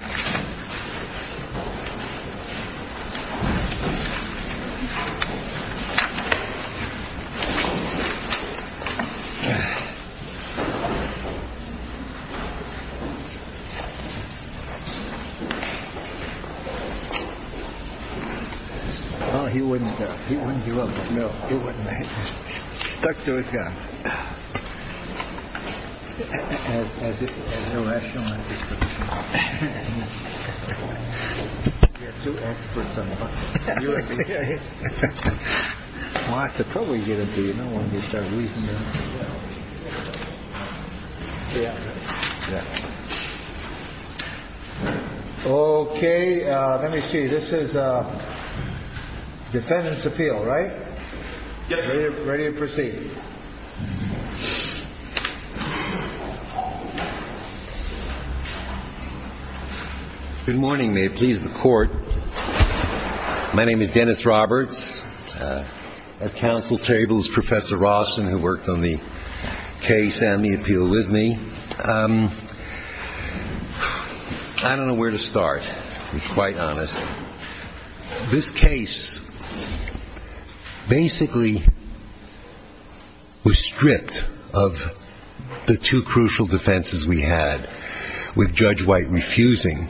Well, he wouldn't, he wouldn't give up. No, he wouldn't. Stuck to his guns. As a rational. OK, let me see. This is a defendant's appeal, right? Ready to proceed. Good morning. May it please the court. My name is Dennis Roberts. At council tables, Professor Roston, who worked on the case and the appeal with me. I don't know where to start, to be quite honest. This case basically was stripped of the two crucial defenses we had with Judge White refusing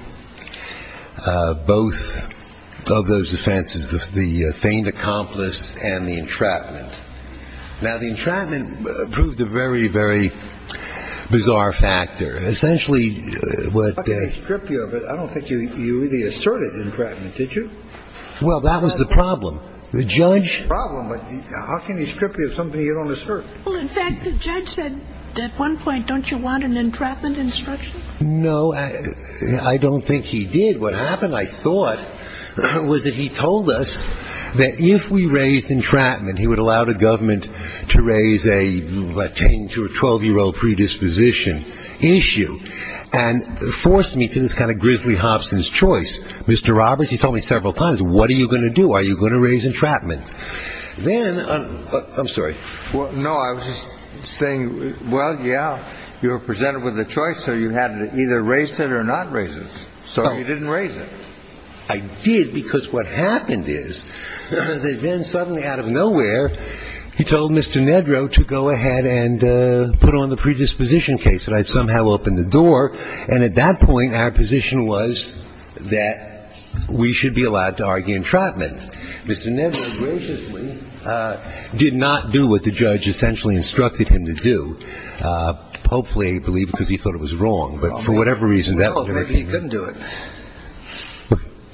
both of those defenses, the feigned accomplice and the entrapment. Now, the entrapment proved a very, very bizarre factor. Essentially, what they stripped you of it, I don't think you really asserted entrapment, did you? Well, that was the problem. The judge problem. How can you strip you of something you don't assert? In fact, the judge said at one point, don't you want an entrapment instruction? No, I don't think he did. What happened, I thought, was that he told us that if we raised entrapment, he would allow the government to raise a 10 to 12 year old predisposition issue and forced me to this kind of grizzly Hobson's choice. Mr. Roberts, he told me several times, what are you going to do? Are you going to raise entrapment? Then, I'm sorry. No, I was just saying, well, yeah, you were presented with a choice, so you had to either raise it or not raise it. So you didn't raise it. I did because what happened is that then suddenly out of nowhere, he told Mr. Nedrow to go ahead and put on the predisposition case. And I somehow opened the door. And at that point, our position was that we should be allowed to argue entrapment. Mr. Nedrow graciously did not do what the judge essentially instructed him to do. Hopefully, I believe, because he thought it was wrong. But for whatever reason, he couldn't do it.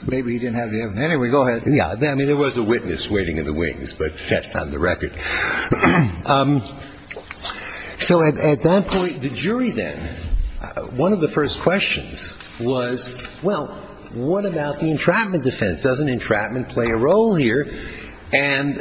Maybe he didn't have the evidence. Anyway, go ahead. I mean, there was a witness waiting in the wings, but that's not on the record. So at that point, the jury then, one of the first questions was, well, what about the entrapment defense? Doesn't entrapment play a role here? And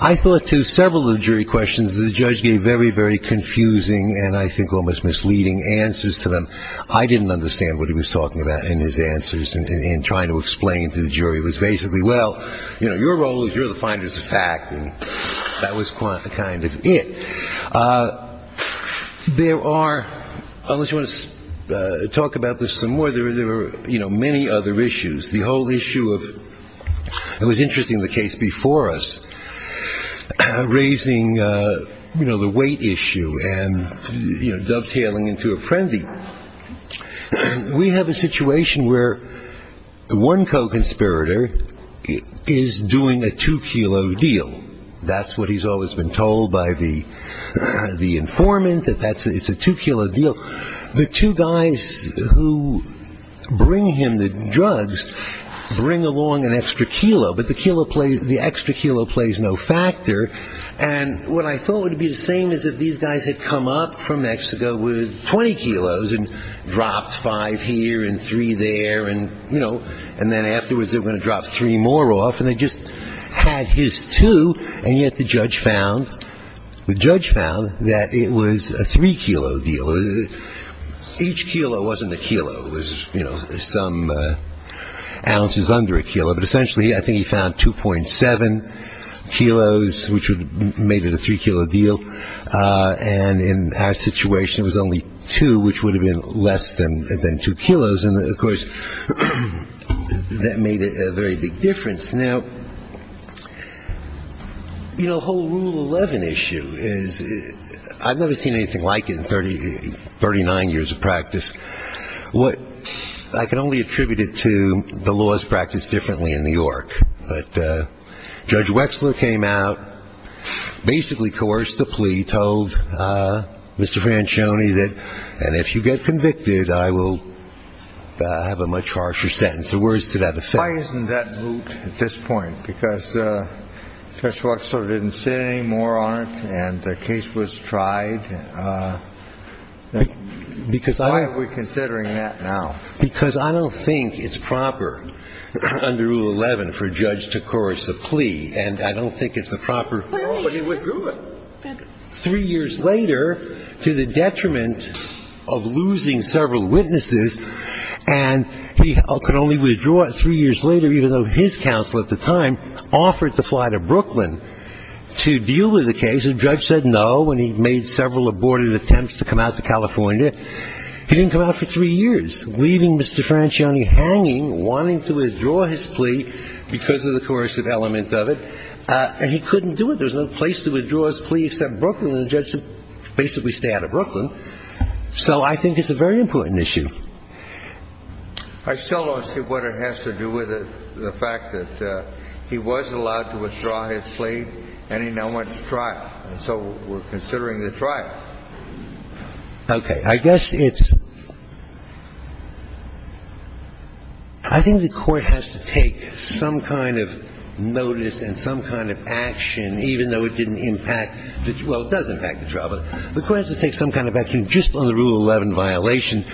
I thought to several of the jury questions that the judge gave very, very confusing and I think almost misleading answers to them. I didn't understand what he was talking about in his answers in trying to explain to the jury. It was basically, well, you know, your role is you're the finders of fact. And that was quite the kind of it. There are, I just want to talk about this some more. There were, you know, many other issues. The whole issue of, it was interesting, the case before us, raising, you know, the weight issue and dovetailing into a frenzy. We have a situation where one co-conspirator is doing a two kilo deal. That's what he's always been told by the informant, that it's a two kilo deal. The two guys who bring him the drugs bring along an extra kilo, but the extra kilo plays no factor. And what I thought would be the same is that these guys had come up from Mexico with 20 kilos and dropped five here and three there. And, you know, and then afterwards they were going to drop three more off. And they just had his two. And yet the judge found, the judge found that it was a three kilo deal. Each kilo wasn't a kilo. But essentially I think he found 2.7 kilos, which would have made it a three kilo deal. And in our situation it was only two, which would have been less than two kilos. And, of course, that made a very big difference. Now, you know, the whole Rule 11 issue is, I've never seen anything like it in 39 years of practice. What I can only attribute it to the laws practiced differently in New York. But Judge Wexler came out, basically coerced the plea, told Mr. Franchione that, and if you get convicted, I will have a much harsher sentence. The words to that effect. Why isn't that moot at this point? Because Judge Wexler didn't say any more on it and the case was tried. Why are we considering that now? Because I don't think it's proper under Rule 11 for a judge to coerce a plea. And I don't think it's a proper rule. But he withdrew it three years later to the detriment of losing several witnesses. And he could only withdraw it three years later, even though his counsel at the time offered to fly to Brooklyn to deal with the case. The judge said no when he made several aborted attempts to come out to California. He didn't come out for three years, leaving Mr. Franchione hanging, wanting to withdraw his plea because of the coercive element of it. And he couldn't do it. There was no place to withdraw his plea except Brooklyn. And the judge said basically stay out of Brooklyn. So I think it's a very important issue. I still don't see what it has to do with the fact that he was allowed to withdraw his plea and he now went to trial. So we're considering the trial. Okay. I guess it's – I think the Court has to take some kind of notice and some kind of action, even though it didn't impact – well, it does impact the trial. But the Court has to take some kind of action just on the Rule 11 violation.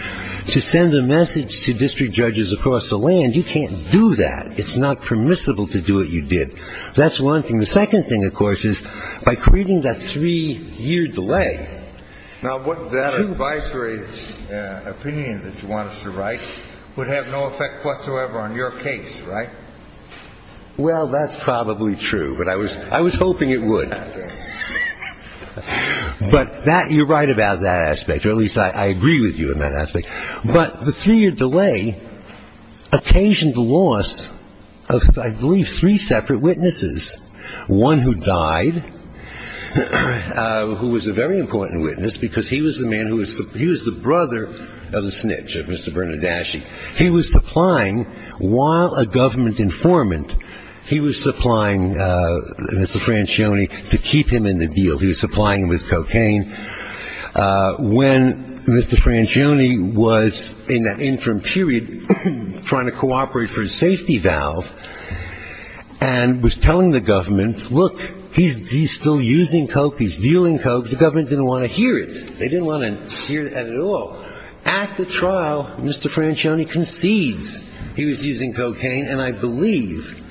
To send a message to district judges across the land, you can't do that. It's not permissible to do what you did. That's one thing. The second thing, of course, is by creating that three-year delay. Now, that advisory opinion that you want us to write would have no effect whatsoever on your case, right? Well, that's probably true, but I was hoping it would. But that – you're right about that aspect, or at least I agree with you on that aspect. But the three-year delay occasioned the loss of, I believe, three separate witnesses. One who died, who was a very important witness because he was the man who was – he was the brother of the snitch, of Mr. Bernardaschi. He was supplying, while a government informant, he was supplying Mr. Francione to keep him in the deal. He was supplying him with cocaine. When Mr. Francione was in that interim period trying to cooperate for his safety valve and was telling the government, look, he's still using coke, he's dealing coke, the government didn't want to hear it. They didn't want to hear that at all. At the trial, Mr. Francione concedes he was using cocaine, and I believe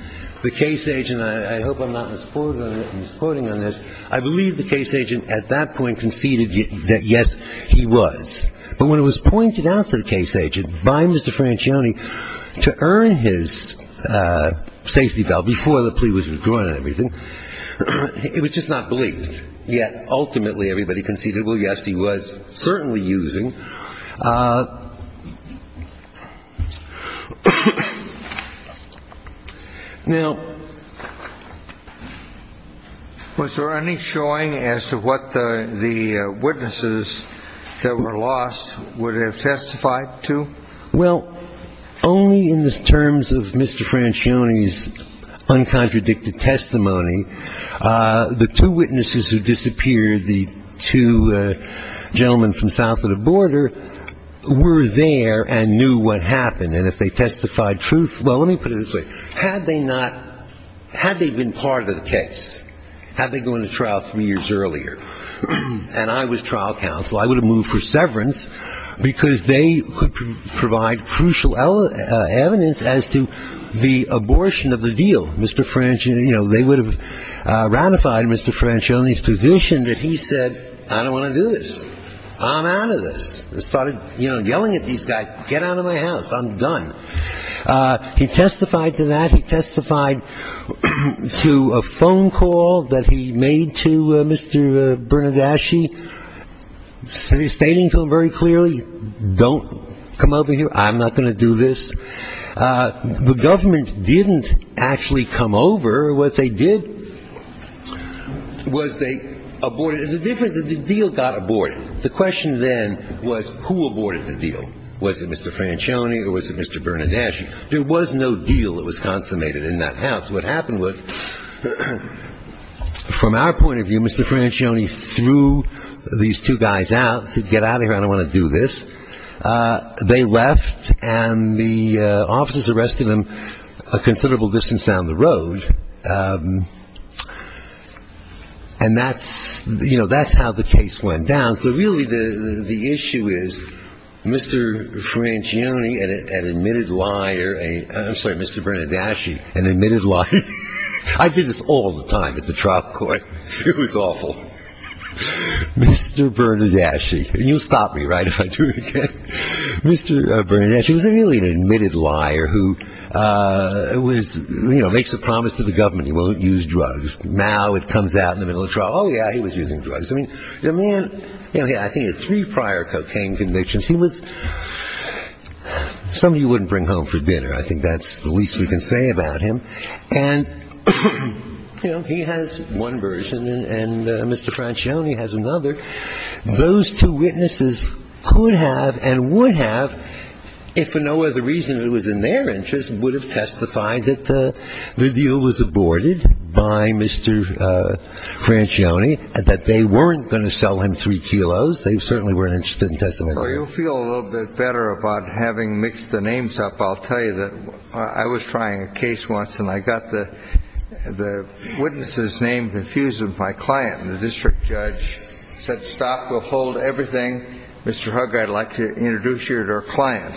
the case agent – I hope I'm not misquoting on this – I believe the case agent at that point conceded that, yes, he was. But when it was pointed out to the case agent by Mr. Francione to earn his safety valve before the plea was withdrawn and everything, it was just not believed. Yet, ultimately, everybody conceded, well, yes, he was certainly using. Now, was there any showing as to what the witnesses that were lost would have testified to? Well, only in the terms of Mr. Francione's uncontradicted testimony. The two witnesses who disappeared, the two gentlemen from south of the border, were there and knew what happened. And if they testified truth – well, let me put it this way. Had they not – had they been part of the case, had they gone to trial three years earlier and I was trial counsel, I would have moved for severance because they could provide crucial evidence as to the abortion of the deal. Mr. Francione – you know, they would have ratified Mr. Francione's position that he said, I don't want to do this. I'm out of this. He started, you know, yelling at these guys, get out of my house. I'm done. He testified to that. He testified to a phone call that he made to Mr. Bernardaschi, stating to him very clearly, don't come over here. I'm not going to do this. The government didn't actually come over. What they did was they aborted – the difference is the deal got aborted. The question then was who aborted the deal. Was it Mr. Francione or was it Mr. Bernardaschi? There was no deal that was consummated in that house. What happened was, from our point of view, Mr. Francione threw these two guys out, said, get out of here. I don't want to do this. They left, and the officers arrested them a considerable distance down the road. And that's – you know, that's how the case went down. So really the issue is Mr. Francione, an admitted liar – I'm sorry, Mr. Bernardaschi, an admitted liar. I did this all the time at the trial court. It was awful. Mr. Bernardaschi. You'll stop me, right, if I do it again. Mr. Bernardaschi was really an admitted liar who was – you know, makes a promise to the government he won't use drugs. Now it comes out in the middle of trial, oh, yeah, he was using drugs. I mean, the man – I think he had three prior cocaine convictions. He was somebody you wouldn't bring home for dinner. I think that's the least we can say about him. And, you know, he has one version, and Mr. Francione has another. Those two witnesses could have and would have, if for no other reason it was in their interest, would have testified that the deal was aborted by Mr. Francione, that they weren't going to sell him three kilos. They certainly weren't interested in testifying. Well, you'll feel a little bit better about having mixed the names up. I'll tell you that I was trying a case once, and I got the witnesses' names infused with my client. And the district judge said, stop, we'll hold everything. Mr. Hugg, I'd like to introduce you to our client.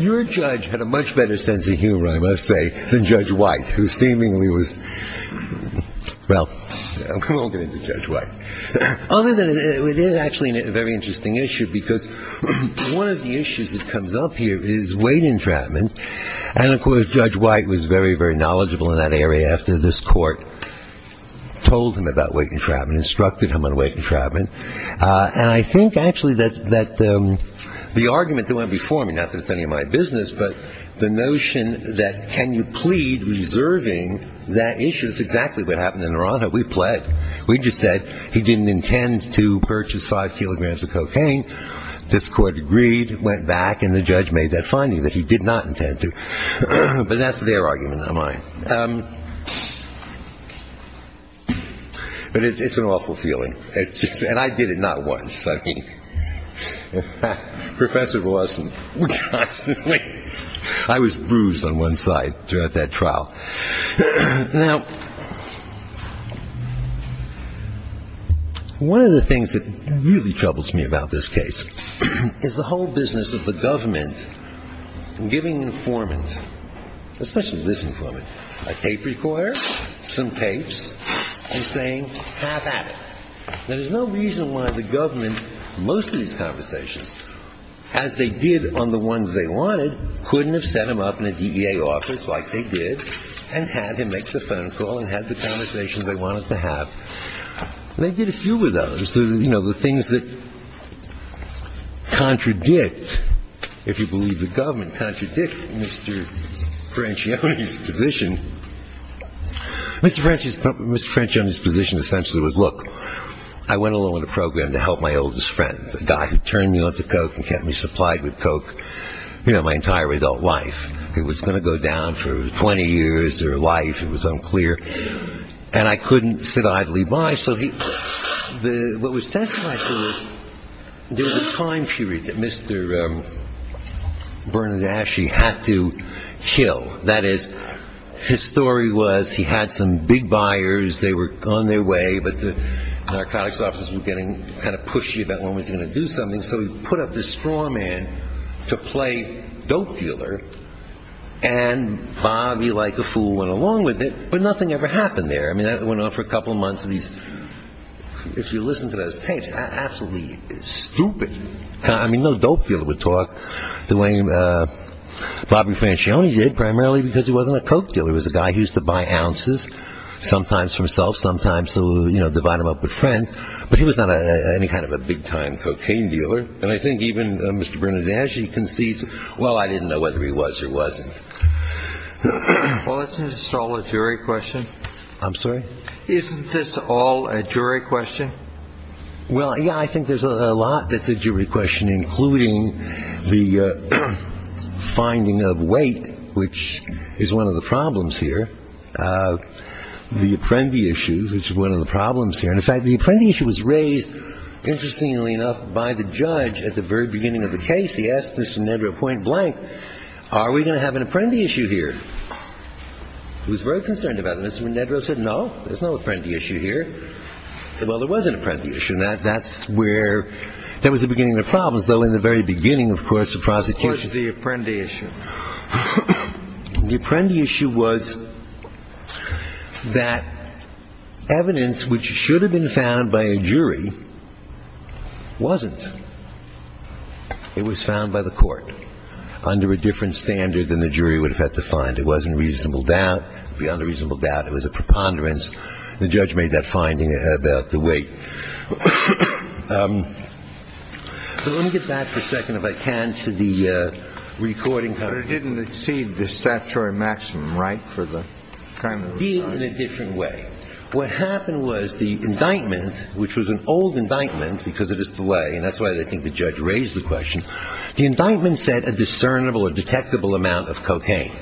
Your judge had a much better sense of humor, I must say, than Judge White, who seemingly was – well, we won't get into Judge White. Other than it is actually a very interesting issue because one of the issues that comes up here is weight entrapment. And, of course, Judge White was very, very knowledgeable in that area after this court told him about weight entrapment, instructed him on weight entrapment. And I think actually that the argument that went before me, not that it's any of my business, but the notion that can you plead reserving that issue, that's exactly what happened in Naranjo. We pled. We just said he didn't intend to purchase five kilograms of cocaine. This court agreed, went back, and the judge made that finding that he did not intend to. But that's their argument, not mine. But it's an awful feeling. And I did it not once. I mean, Professor Blossom would constantly – I was bruised on one side throughout that trial. Now, one of the things that really troubles me about this case is the whole business of the government giving informants, especially this informant, a tape recorder, some tapes, and saying have at it. Now, there's no reason why the government, most of these conversations, as they did on the ones they wanted, couldn't have set him up in a DEA office like they did and had him make the phone call and have the conversations they wanted to have. And they did a few of those. You know, the things that contradict, if you believe the government, contradict Mr. Franchione's position. Mr. Franchione's position essentially was, look, I went along on a program to help my oldest friend, a guy who turned me on to coke and kept me supplied with coke, you know, my entire adult life. It was going to go down for 20 years or life. It was unclear. And I couldn't sit idly by. So what was testified to was there was a time period that Mr. Bernadacci had to kill. That is, his story was he had some big buyers. They were on their way. But the narcotics officers were getting kind of pushy about when he was going to do something. So he put up this straw man to play dope dealer. And Bobby, like a fool, went along with it. But nothing ever happened there. I mean, that went on for a couple of months. If you listen to those tapes, absolutely stupid. I mean, no dope dealer would talk the way Bobby Franchione did, primarily because he wasn't a coke dealer. He was a guy who used to buy ounces, sometimes for himself, sometimes to, you know, divide him up with friends. But he was not any kind of a big-time cocaine dealer. And I think even Mr. Bernadacci concedes, well, I didn't know whether he was or wasn't. Well, isn't this all a jury question? I'm sorry? Isn't this all a jury question? Well, yeah, I think there's a lot that's a jury question, including the finding of weight, which is one of the problems here, the apprendi issues, which is one of the problems here. And, in fact, the apprendi issue was raised, interestingly enough, by the judge at the very beginning of the case. He asked Mr. Nedrow point blank, are we going to have an apprendi issue here? He was very concerned about it. Mr. Nedrow said, no, there's no apprendi issue here. Well, there was an apprendi issue. And that's where there was a beginning of the problems, though, in the very beginning, of course, of prosecution. What was the apprendi issue? The apprendi issue was that evidence which should have been found by a jury wasn't. It was found by the court under a different standard than the jury would have had to find. It wasn't reasonable doubt. It would be unreasonable doubt. It was a preponderance. The judge made that finding about the weight. Let me get back for a second, if I can, to the recording. But it didn't exceed the statutory maximum, right, for the kind of recording? It did in a different way. What happened was the indictment, which was an old indictment because of this delay, and that's why I think the judge raised the question, the indictment said a discernible or detectable amount of cocaine.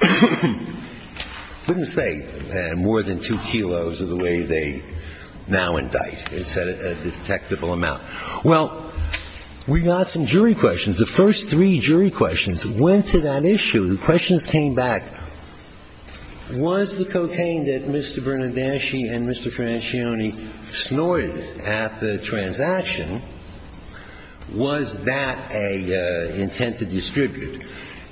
I wouldn't say more than 2 kilos of the way they now indict. It said a detectable amount. Well, we got some jury questions. The first three jury questions went to that issue. The questions came back, was the cocaine that Mr. Bernardacci and Mr. Francione snorted at the transaction, was that an intent to distribute?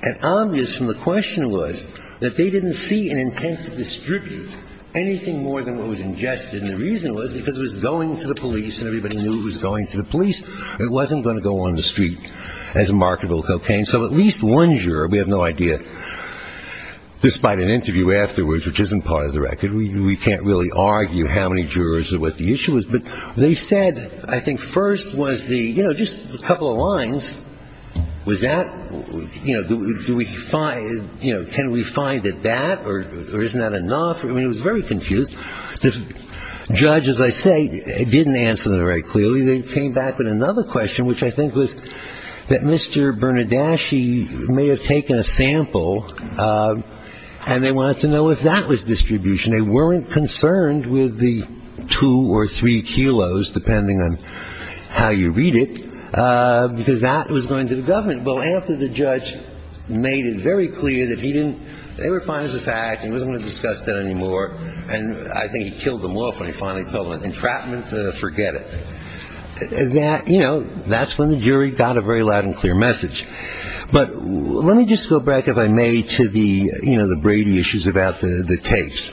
And obvious from the question was that they didn't see an intent to distribute anything more than what was ingested. And the reason was because it was going to the police and everybody knew it was going to the police. It wasn't going to go on the street as a marketable cocaine. So at least one juror, we have no idea, despite an interview afterwards, which isn't part of the record. We can't really argue how many jurors or what the issue is. But they said, I think first was the, you know, just a couple of lines. Was that, you know, do we find, you know, can we find it that, or isn't that enough? I mean, it was very confused. The judge, as I say, didn't answer that very clearly. They came back with another question, which I think was that Mr. Bernardacci may have taken a sample, and they wanted to know if that was distribution. They weren't concerned with the two or three kilos, depending on how you read it, because that was going to the government. But after the judge made it very clear that he didn't, they were fine as a fact. He wasn't going to discuss that anymore. And I think he killed them off when he finally told them, entrapment, forget it. That, you know, that's when the jury got a very loud and clear message. But let me just go back, if I may, to the, you know, the Brady issues about the tapes.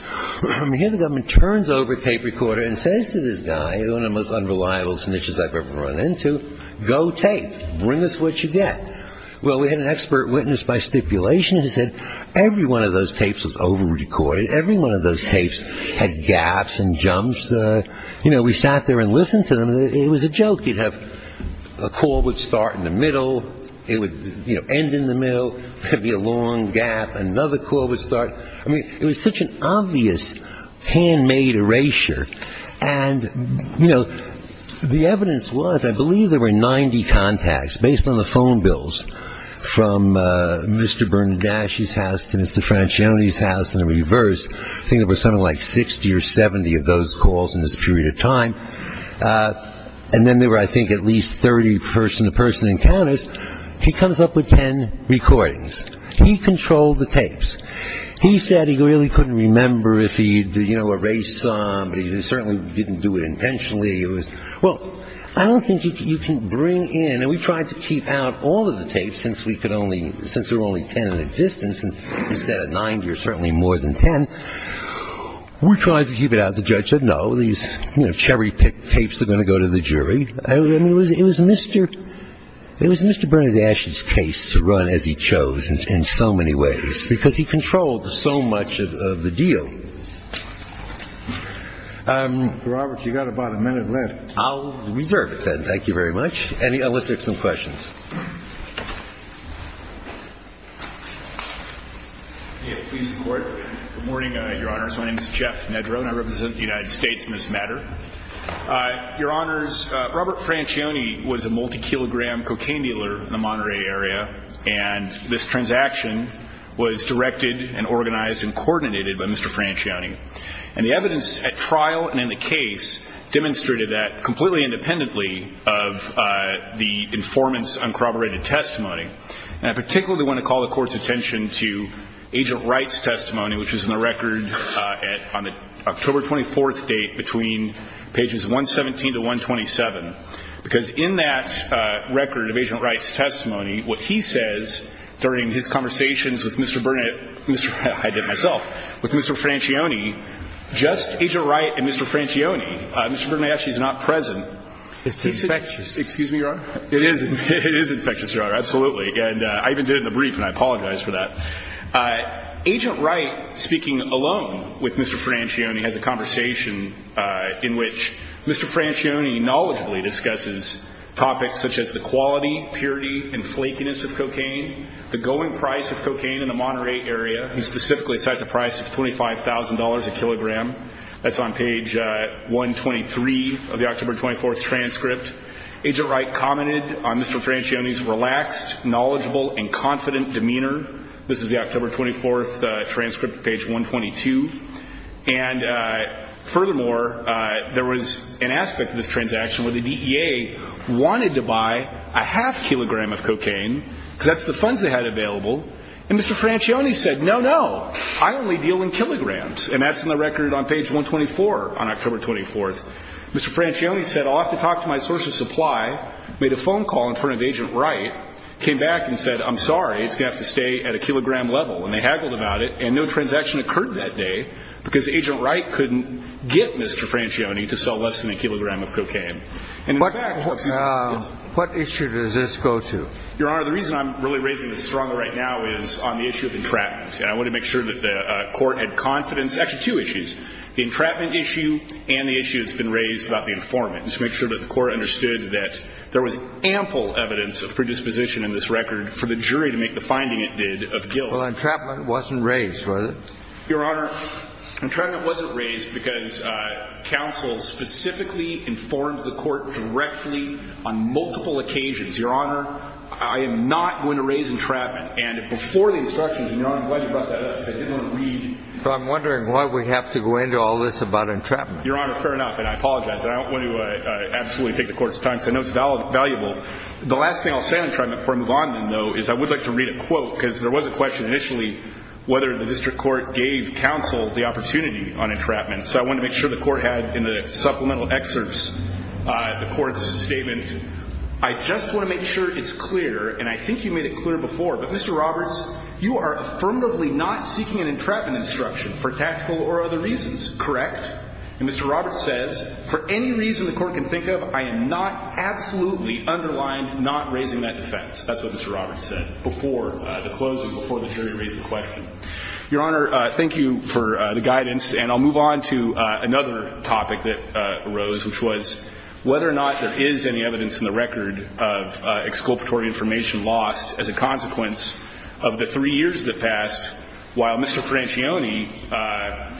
Here the government turns over tape recorder and says to this guy, one of the most unreliable snitches I've ever run into, go tape. Bring us what you get. Well, we had an expert witness by stipulation who said every one of those tapes was over-recorded. Every one of those tapes had gaps and jumps. You know, we sat there and listened to them. It was a joke. A call would start in the middle. It would, you know, end in the middle. There would be a long gap. Another call would start. I mean, it was such an obvious, handmade erasure. And, you know, the evidence was, I believe there were 90 contacts, based on the phone bills, from Mr. Bernardaschi's house to Mr. Franchione's house and the reverse. I think there were something like 60 or 70 of those calls in this period of time. And then there were, I think, at least 30 person-to-person encounters. He comes up with 10 recordings. He controlled the tapes. He said he really couldn't remember if he, you know, erased some, but he certainly didn't do it intentionally. It was, well, I don't think you can bring in, and we tried to keep out all of the tapes since we could only, since there were only 10 in existence instead of 90 or certainly more than 10. We tried to keep it out. The judge said, no, these, you know, cherry-picked tapes are going to go to the jury. I mean, it was Mr. Bernardaschi's case to run as he chose in so many ways because he controlled so much of the deal. Robert, you've got about a minute left. I'll reserve it then. Thank you very much. Let's take some questions. Please report. Good morning, Your Honors. My name is Jeff Nedrow. I represent the United States in this matter. Your Honors, Robert Francione was a multi-kilogram cocaine dealer in the Monterey area, and this transaction was directed and organized and coordinated by Mr. Francione. And the evidence at trial and in the case demonstrated that completely independently of the informant's uncorroborated testimony. And I particularly want to call the Court's attention to Agent Wright's testimony, which is in the record on the October 24th date between pages 117 to 127, because in that record of Agent Wright's testimony, what he says during his conversations with Mr. Bernardaschi and Mr. Francione, just Agent Wright and Mr. Francione, Mr. Bernardaschi is not present. It's infectious. Excuse me, Your Honor. It is. It is infectious, Your Honor. Absolutely. And I even did it in the brief, and I apologize for that. Agent Wright, speaking alone with Mr. Francione, has a conversation in which Mr. Francione knowledgeably discusses topics such as the quality, purity, and flakiness of cocaine, the going price of cocaine in the Monterey area, and specifically a size of price of $25,000 a kilogram. That's on page 123 of the October 24th transcript. Agent Wright commented on Mr. Francione's relaxed, knowledgeable, and confident demeanor. This is the October 24th transcript, page 122. And furthermore, there was an aspect of this transaction where the DEA wanted to buy a half kilogram of cocaine, because that's the funds they had available, and Mr. Francione said, no, no, I only deal in kilograms, and that's in the record on page 124 on October 24th. Mr. Francione said, I'll have to talk to my source of supply, made a phone call in front of Agent Wright, came back and said, I'm sorry, it's going to have to stay at a kilogram level. And they haggled about it, and no transaction occurred that day, because Agent Wright couldn't get Mr. Francione to sell less than a kilogram of cocaine. What issue does this go to? Your Honor, the reason I'm really raising this strongly right now is on the issue of entrapment. I want to make sure that the Court had confidence. The entrapment issue and the issue that's been raised about the informant, to make sure that the Court understood that there was ample evidence of predisposition in this record for the jury to make the finding it did of guilt. Well, entrapment wasn't raised, was it? Your Honor, entrapment wasn't raised because counsel specifically informed the Court directly on multiple occasions. Your Honor, I am not going to raise entrapment. And before the instructions, and Your Honor, I'm glad you brought that up, because I didn't want to read. So I'm wondering why we have to go into all this about entrapment. Your Honor, fair enough, and I apologize. I don't want to absolutely take the Court's time, because I know it's valuable. The last thing I'll say on entrapment before I move on, though, is I would like to read a quote, because there was a question initially whether the District Court gave counsel the opportunity on entrapment. So I want to make sure the Court had in the supplemental excerpts the Court's statement, I just want to make sure it's clear, and I think you made it clear before, but Mr. Roberts, you are affirmatively not seeking an entrapment instruction for tactical or other reasons, correct? And Mr. Roberts says, for any reason the Court can think of, I am not absolutely underlined not raising that defense. That's what Mr. Roberts said before the closing, before the jury raised the question. Your Honor, thank you for the guidance, and I'll move on to another topic that arose, which was whether or not there is any evidence in the record of exculpatory information lost as a consequence of the three years that passed while Mr. Franchione,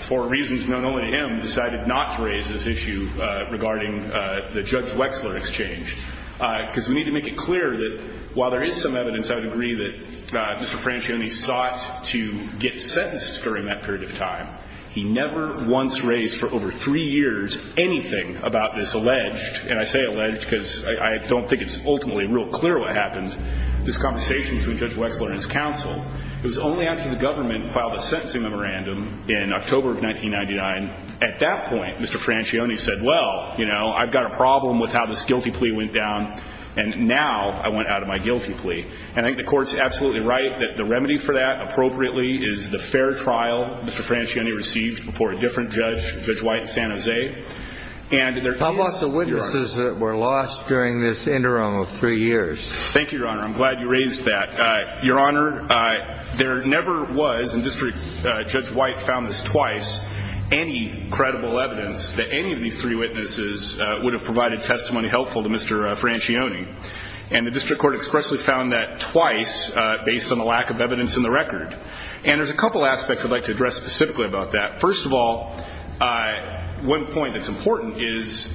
for reasons known only to him, decided not to raise this issue regarding the Judge Wexler exchange. Because we need to make it clear that while there is some evidence, I would agree that Mr. Franchione sought to get sentenced during that period of time. He never once raised for over three years anything about this alleged, and I say alleged because I don't think it's ultimately real clear what happened, this conversation between Judge Wexler and his counsel. It was only after the government filed a sentencing memorandum in October of 1999. At that point, Mr. Franchione said, well, you know, I've got a problem with how this guilty plea went down, and now I want out of my guilty plea. And I think the Court's absolutely right that the remedy for that appropriately is the fair trial. Mr. Franchione received before a different judge, Judge White in San Jose. I've lost the witnesses that were lost during this interim of three years. Thank you, Your Honor. I'm glad you raised that. Your Honor, there never was, and District Judge White found this twice, any credible evidence that any of these three witnesses would have provided testimony helpful to Mr. Franchione. And the District Court expressly found that twice based on the lack of evidence in the record. And there's a couple aspects I'd like to address specifically about that. First of all, one point that's important is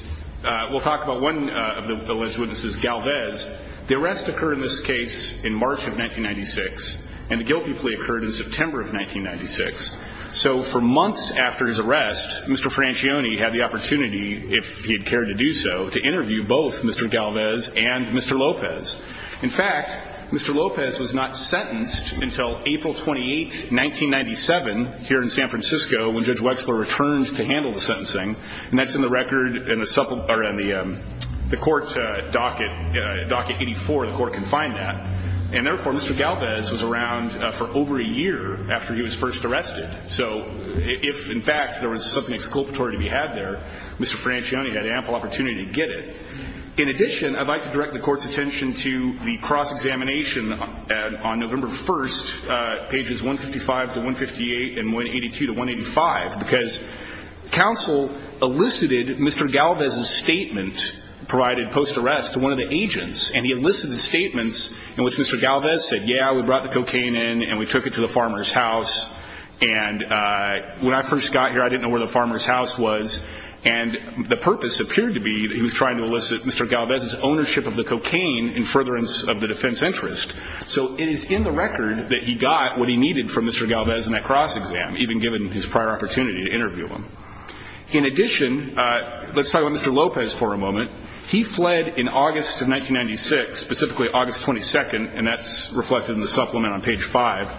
we'll talk about one of the alleged witnesses, Galvez. The arrest occurred in this case in March of 1996, and the guilty plea occurred in September of 1996. So for months after his arrest, Mr. Franchione had the opportunity, if he had cared to do so, to interview both Mr. Galvez and Mr. Lopez. In fact, Mr. Lopez was not sentenced until April 28, 1997, here in San Francisco, when Judge Wexler returns to handle the sentencing. And that's in the record in the court docket, docket 84, the court can find that. And therefore, Mr. Galvez was around for over a year after he was first arrested. So if, in fact, there was something exculpatory to be had there, Mr. Franchione had ample opportunity to get it. In addition, I'd like to direct the court's attention to the cross-examination on November 1, pages 155 to 158 and 182 to 185, because counsel elucidated Mr. Galvez's statement provided post-arrest to one of the agents. And he elicited the statements in which Mr. Galvez said, yeah, we brought the cocaine in and we took it to the farmer's house. And when I first got here, I didn't know where the farmer's house was. And the purpose appeared to be that he was trying to elicit Mr. Galvez's ownership of the cocaine in furtherance of the defense interest. So it is in the record that he got what he needed from Mr. Galvez in that cross-exam, even given his prior opportunity to interview him. In addition, let's talk about Mr. Lopez for a moment. He fled in August of 1996, specifically August 22, and that's reflected in the supplement on page 5,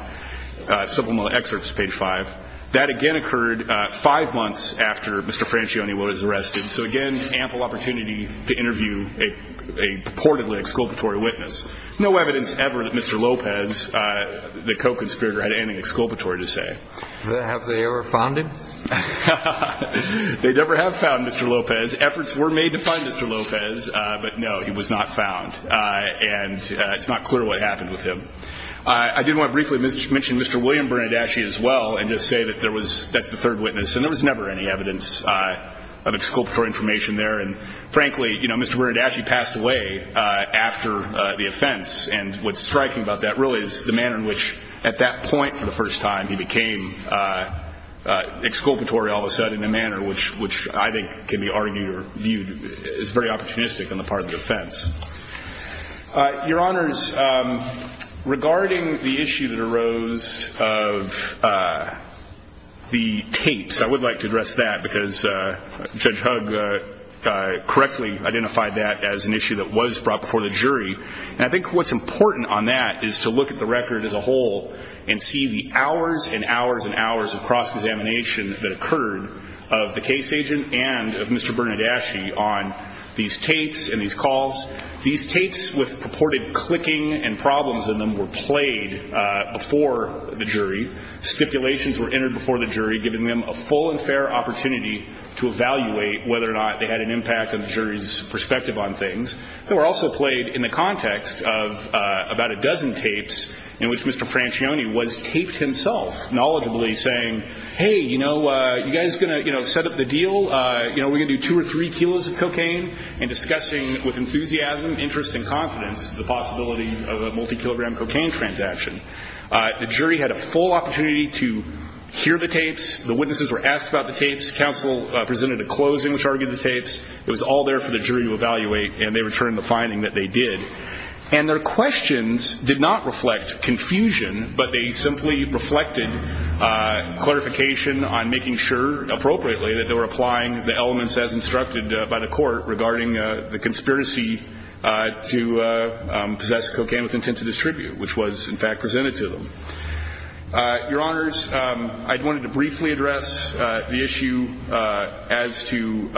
that again occurred five months after Mr. Francione was arrested. So again, ample opportunity to interview a purportedly exculpatory witness. No evidence ever that Mr. Lopez, the co-conspirator, had anything exculpatory to say. Have they ever found him? They never have found Mr. Lopez. Efforts were made to find Mr. Lopez, but no, he was not found. And it's not clear what happened with him. I do want to briefly mention Mr. William Bernardaschi as well and just say that that's the third witness, and there was never any evidence of exculpatory information there. And frankly, Mr. Bernardaschi passed away after the offense, and what's striking about that really is the manner in which at that point for the first time he became exculpatory all of a sudden in a manner which I think can be argued or viewed as very opportunistic on the part of the defense. Your Honors, regarding the issue that arose of the tapes, I would like to address that because Judge Hugg correctly identified that as an issue that was brought before the jury. And I think what's important on that is to look at the record as a whole and see the hours and hours and hours of cross-examination that occurred of the case agent and of Mr. Bernardaschi on these tapes and these calls. These tapes with purported clicking and problems in them were played before the jury. Stipulations were entered before the jury, giving them a full and fair opportunity to evaluate whether or not they had an impact on the jury's perspective on things. They were also played in the context of about a dozen tapes in which Mr. Francione was taped himself, knowledgeably saying, hey, you know, you guys going to set up the deal? You know, we're going to do two or three kilos of cocaine? And discussing with enthusiasm, interest, and confidence the possibility of a multi-kilogram cocaine transaction. The jury had a full opportunity to hear the tapes. The witnesses were asked about the tapes. Counsel presented a closing which argued the tapes. It was all there for the jury to evaluate, and they returned the finding that they did. And their questions did not reflect confusion, but they simply reflected clarification on making sure, appropriately, that they were applying the elements as instructed by the court regarding the conspiracy to possess cocaine with intent to distribute, which was, in fact, presented to them. Your Honors, I wanted to briefly address the issue as to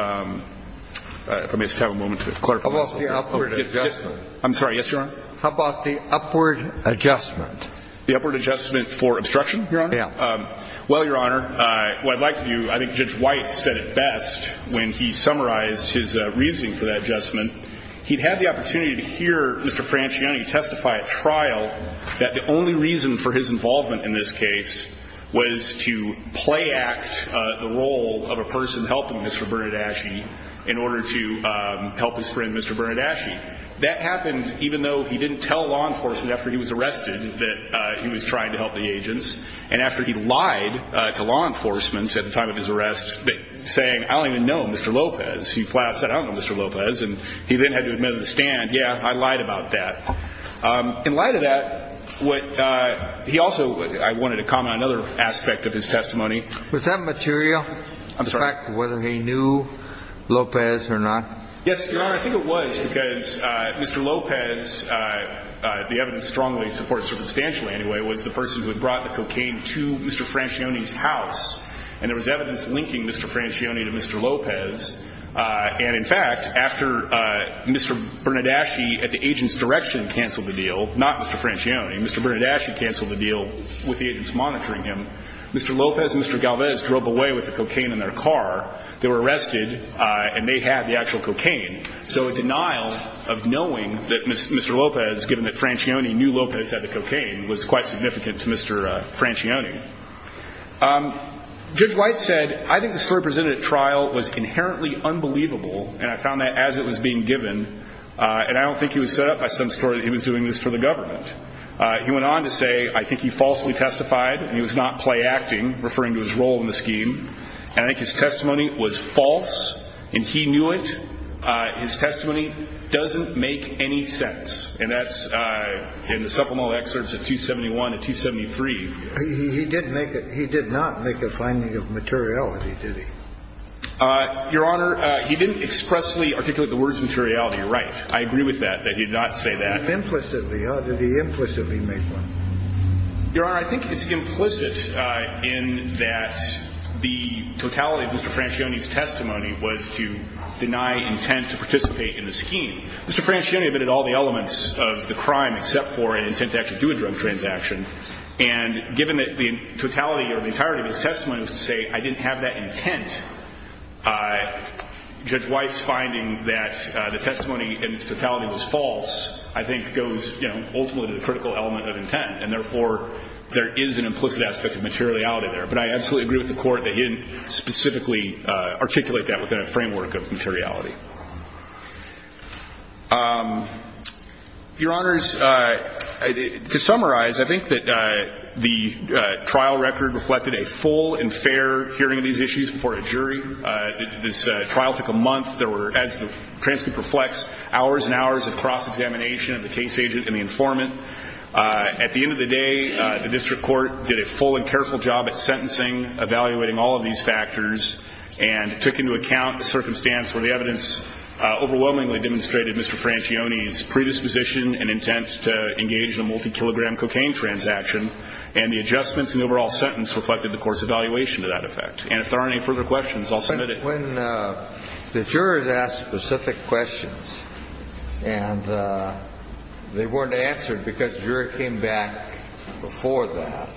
‑‑ if I may just have a moment to clarify this. How about the upward adjustment? I'm sorry. Yes, Your Honor. How about the upward adjustment? The upward adjustment for obstruction, Your Honor? Yeah. Well, Your Honor, what I'd like to do, I think Judge Weiss said it best when he summarized his reasoning for that adjustment. He had the opportunity to hear Mr. Francione testify at trial that the only reason for his involvement in this case was to play act the role of a person helping Mr. Bernardaschi in order to help his friend, Mr. Bernardaschi. That happened even though he didn't tell law enforcement after he was arrested that he was trying to help the agents. And after he lied to law enforcement at the time of his arrest, saying, I don't even know Mr. Lopez. He flat‑out said, I don't know Mr. Lopez. And he then had to admit at the stand, yeah, I lied about that. In light of that, he also ‑‑ I wanted to comment on another aspect of his testimony. Was that material? I'm sorry. The fact of whether he knew Lopez or not? Yes, Your Honor. I think it was because Mr. Lopez, the evidence strongly supports circumstantially anyway, was the person who had brought the cocaine to Mr. Francione's house. And there was evidence linking Mr. Francione to Mr. Lopez. And, in fact, after Mr. Bernardaschi at the agent's direction canceled the deal, not Mr. Francione, Mr. Bernardaschi canceled the deal with the agents monitoring him, Mr. Lopez and Mr. Galvez drove away with the cocaine in their car. They were arrested, and they had the actual cocaine. So a denial of knowing that Mr. Lopez, given that Francione knew Lopez had the cocaine, was quite significant to Mr. Francione. Judge White said, I think the story presented at trial was inherently unbelievable, and I found that as it was being given, and I don't think he was set up by some story that he was doing this for the government. He went on to say, I think he falsely testified, and he was not playacting, referring to his role in the scheme. And I think his testimony was false, and he knew it. His testimony doesn't make any sense. And that's in the supplemental excerpts of 271 and 273. He did not make a finding of materiality, did he? Your Honor, he didn't expressly articulate the words materiality. You're right. I agree with that, that he did not say that. Implicitly, huh? Did he implicitly make one? Your Honor, I think it's implicit in that the totality of Mr. Francione's testimony was to deny intent to participate in the scheme. Mr. Francione admitted all the elements of the crime except for an intent to actually do a drug transaction, and given that the totality or the entirety of his testimony was to say, I didn't have that intent, Judge Weiss finding that the testimony in its totality was false, I think, goes ultimately to the critical element of intent, and therefore there is an implicit aspect of materiality there. But I absolutely agree with the Court that he didn't specifically articulate that within a framework of materiality. Your Honors, to summarize, I think that the trial record reflected a full and fair hearing of these issues before a jury. This trial took a month. There were, as the transcript reflects, hours and hours of cross-examination of the case agent and the informant. At the end of the day, the district court did a full and careful job at sentencing, evaluating all of these factors, and took into account the circumstance where the evidence overwhelmingly demonstrated Mr. Francione's predisposition and intent to engage in a multi-kilogram cocaine transaction, and the adjustments in the overall sentence reflected the Court's evaluation of that effect. And if there aren't any further questions, I'll submit it. When the jurors ask specific questions and they weren't answered because the juror came back before that,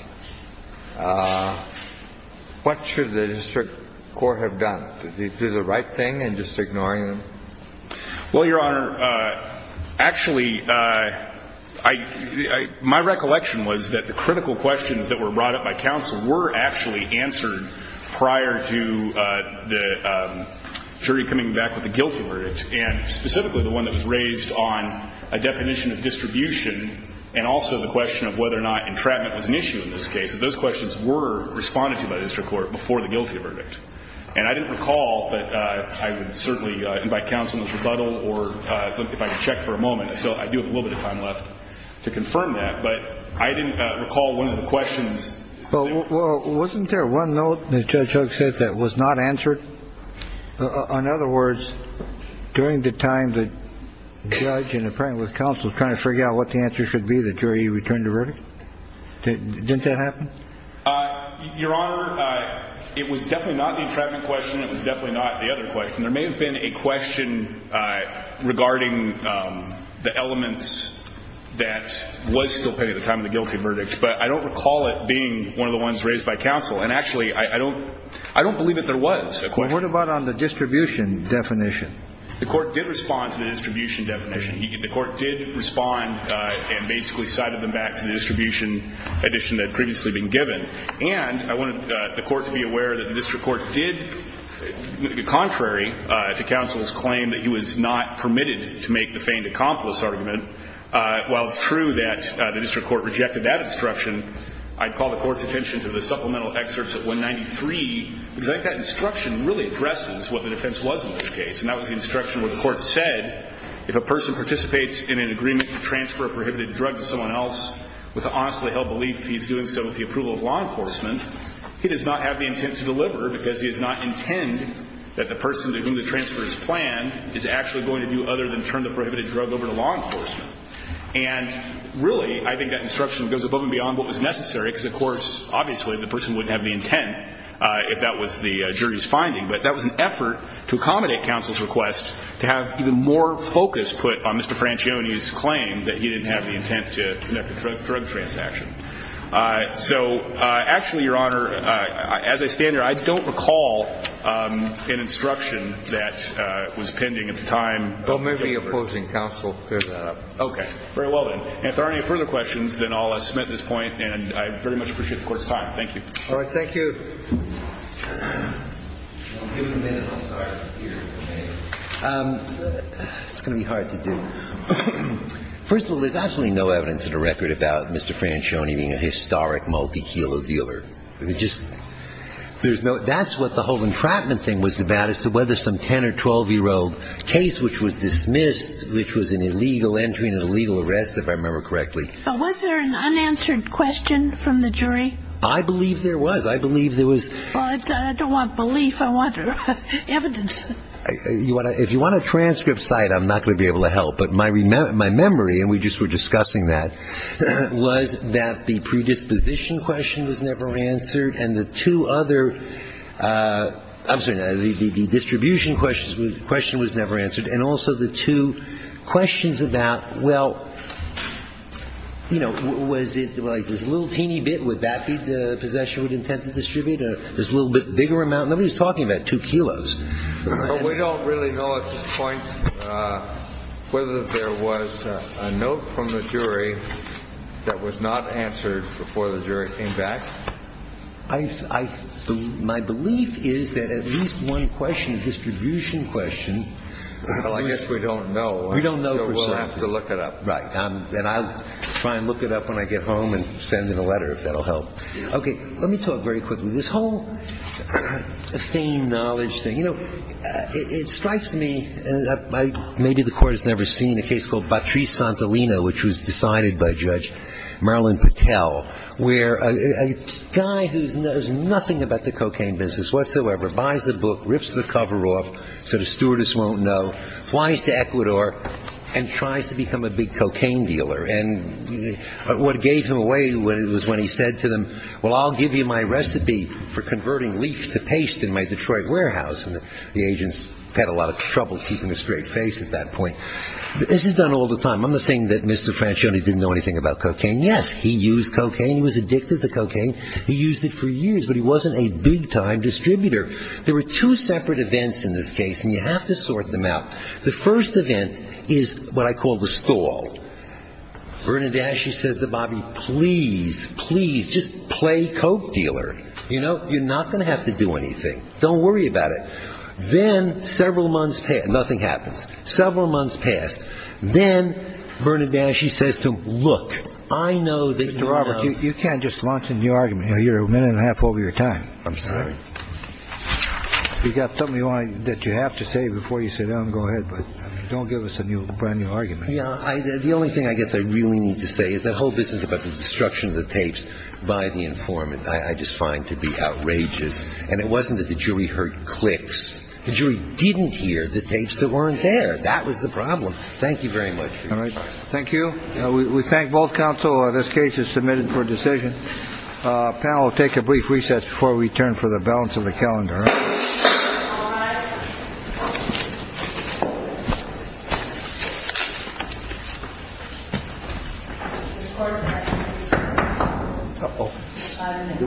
what should the district court have done? Did they do the right thing in just ignoring them? Well, Your Honor, actually, my recollection was that the critical questions that were brought up by counsel were actually answered prior to the jury coming back with a guilty verdict, and specifically the one that was raised on a definition of distribution and also the question of whether or not entrapment was an issue in this case. Those questions were responded to by the district court before the guilty verdict. And I didn't recall, but I would certainly invite counsel into rebuttal if I could check for a moment. So I do have a little bit of time left to confirm that. But I didn't recall one of the questions. Well, wasn't there one note that Judge Hooks said that was not answered? In other words, during the time that the judge and the plaintiff was counsel trying to figure out what the answer should be, the jury returned a verdict? Didn't that happen? Your Honor, it was definitely not the entrapment question. It was definitely not the other question. There may have been a question regarding the elements that was still pending at the time of the guilty verdict, but I don't recall it being one of the ones raised by counsel. And actually, I don't believe that there was a question. What about on the distribution definition? The court did respond to the distribution definition. The court did respond and basically cited them back to the distribution addition that had previously been given. And I wanted the court to be aware that the district court did, contrary to counsel's claim, that he was not permitted to make the feigned accomplice argument. While it's true that the district court rejected that instruction, I'd call the court's attention to the supplemental excerpts at 193, because I think that instruction really addresses what the defense was in this case. And that was the instruction where the court said, if a person participates in an agreement to transfer a prohibited drug to someone else with an honestly held belief that he's doing so with the approval of law enforcement, he does not have the intent to deliver because he does not intend that the person to whom the transfer is planned is actually going to do other than turn the prohibited drug over to law enforcement. And really, I think that instruction goes above and beyond what was necessary, because, of course, obviously the person wouldn't have the intent if that was the jury's finding. But that was an effort to accommodate counsel's request to have even more focus put on Mr. Franchione's claim that he didn't have the intent to conduct a drug transaction. So actually, Your Honor, as I stand here, I don't recall an instruction that was pending at the time. I may be opposing counsel. Okay. Very well, then. If there are any further questions, then I'll submit this point. And I very much appreciate the court's time. Thank you. All right. Thank you. It's going to be hard to do. First of all, there's absolutely no evidence in the record about Mr. Franchione being a historic multi-kilo dealer. I mean, just there's no – that's what the whole entrapment thing was about, whether some 10- or 12-year-old case which was dismissed, which was an illegal entry and an illegal arrest, if I remember correctly. But was there an unanswered question from the jury? I believe there was. I believe there was. Well, I don't want belief. I want evidence. If you want a transcript cite, I'm not going to be able to help. But my memory, and we just were discussing that, was that the predisposition question was never answered and the two other – I'm sorry, the distribution question was never answered and also the two questions about, well, you know, was it like this little teeny bit, would that be the possession we'd intend to distribute or this little bit bigger amount? Nobody was talking about two kilos. But we don't really know at this point whether there was a note from the jury that was not answered before the jury came back. My belief is that at least one question, distribution question, was – Well, I guess we don't know. We don't know for certain. So we'll have to look it up. Right. And I'll try and look it up when I get home and send in a letter, if that'll help. Okay. Let me talk very quickly. This whole fame, knowledge thing, you know, it strikes me, maybe the Court has never seen, which was decided by Judge Marilyn Patel, where a guy who knows nothing about the cocaine business whatsoever, buys a book, rips the cover off so the stewardess won't know, flies to Ecuador and tries to become a big cocaine dealer. And what gave him away was when he said to them, well, I'll give you my recipe for converting leaf to paste in my Detroit warehouse. And the agents had a lot of trouble keeping a straight face at that point. This is done all the time. I'm not saying that Mr. Franchione didn't know anything about cocaine. Yes, he used cocaine. He was addicted to cocaine. He used it for years, but he wasn't a big-time distributor. There were two separate events in this case, and you have to sort them out. The first event is what I call the stall. Bernadette, she says to Bobby, please, please, just play coke dealer. You know, you're not going to have to do anything. Don't worry about it. Then several months passed. Nothing happens. Several months passed. Then Bernadette, she says to him, look, I know that you know. Mr. Roberts, you can't just launch a new argument. You're a minute and a half over your time. I'm sorry. You've got something that you have to say before you sit down and go ahead, but don't give us a brand-new argument. The only thing I guess I really need to say is the whole business about the destruction of the tapes by the informant I just find to be outrageous. And it wasn't that the jury heard clicks. The jury didn't hear the tapes that weren't there. That was the problem. Thank you very much. All right. Thank you. We thank both counsel. This case is submitted for decision. I'll take a brief recess before we turn for the balance of the calendar. All right. All right. Thank you. Thank you. Thank you.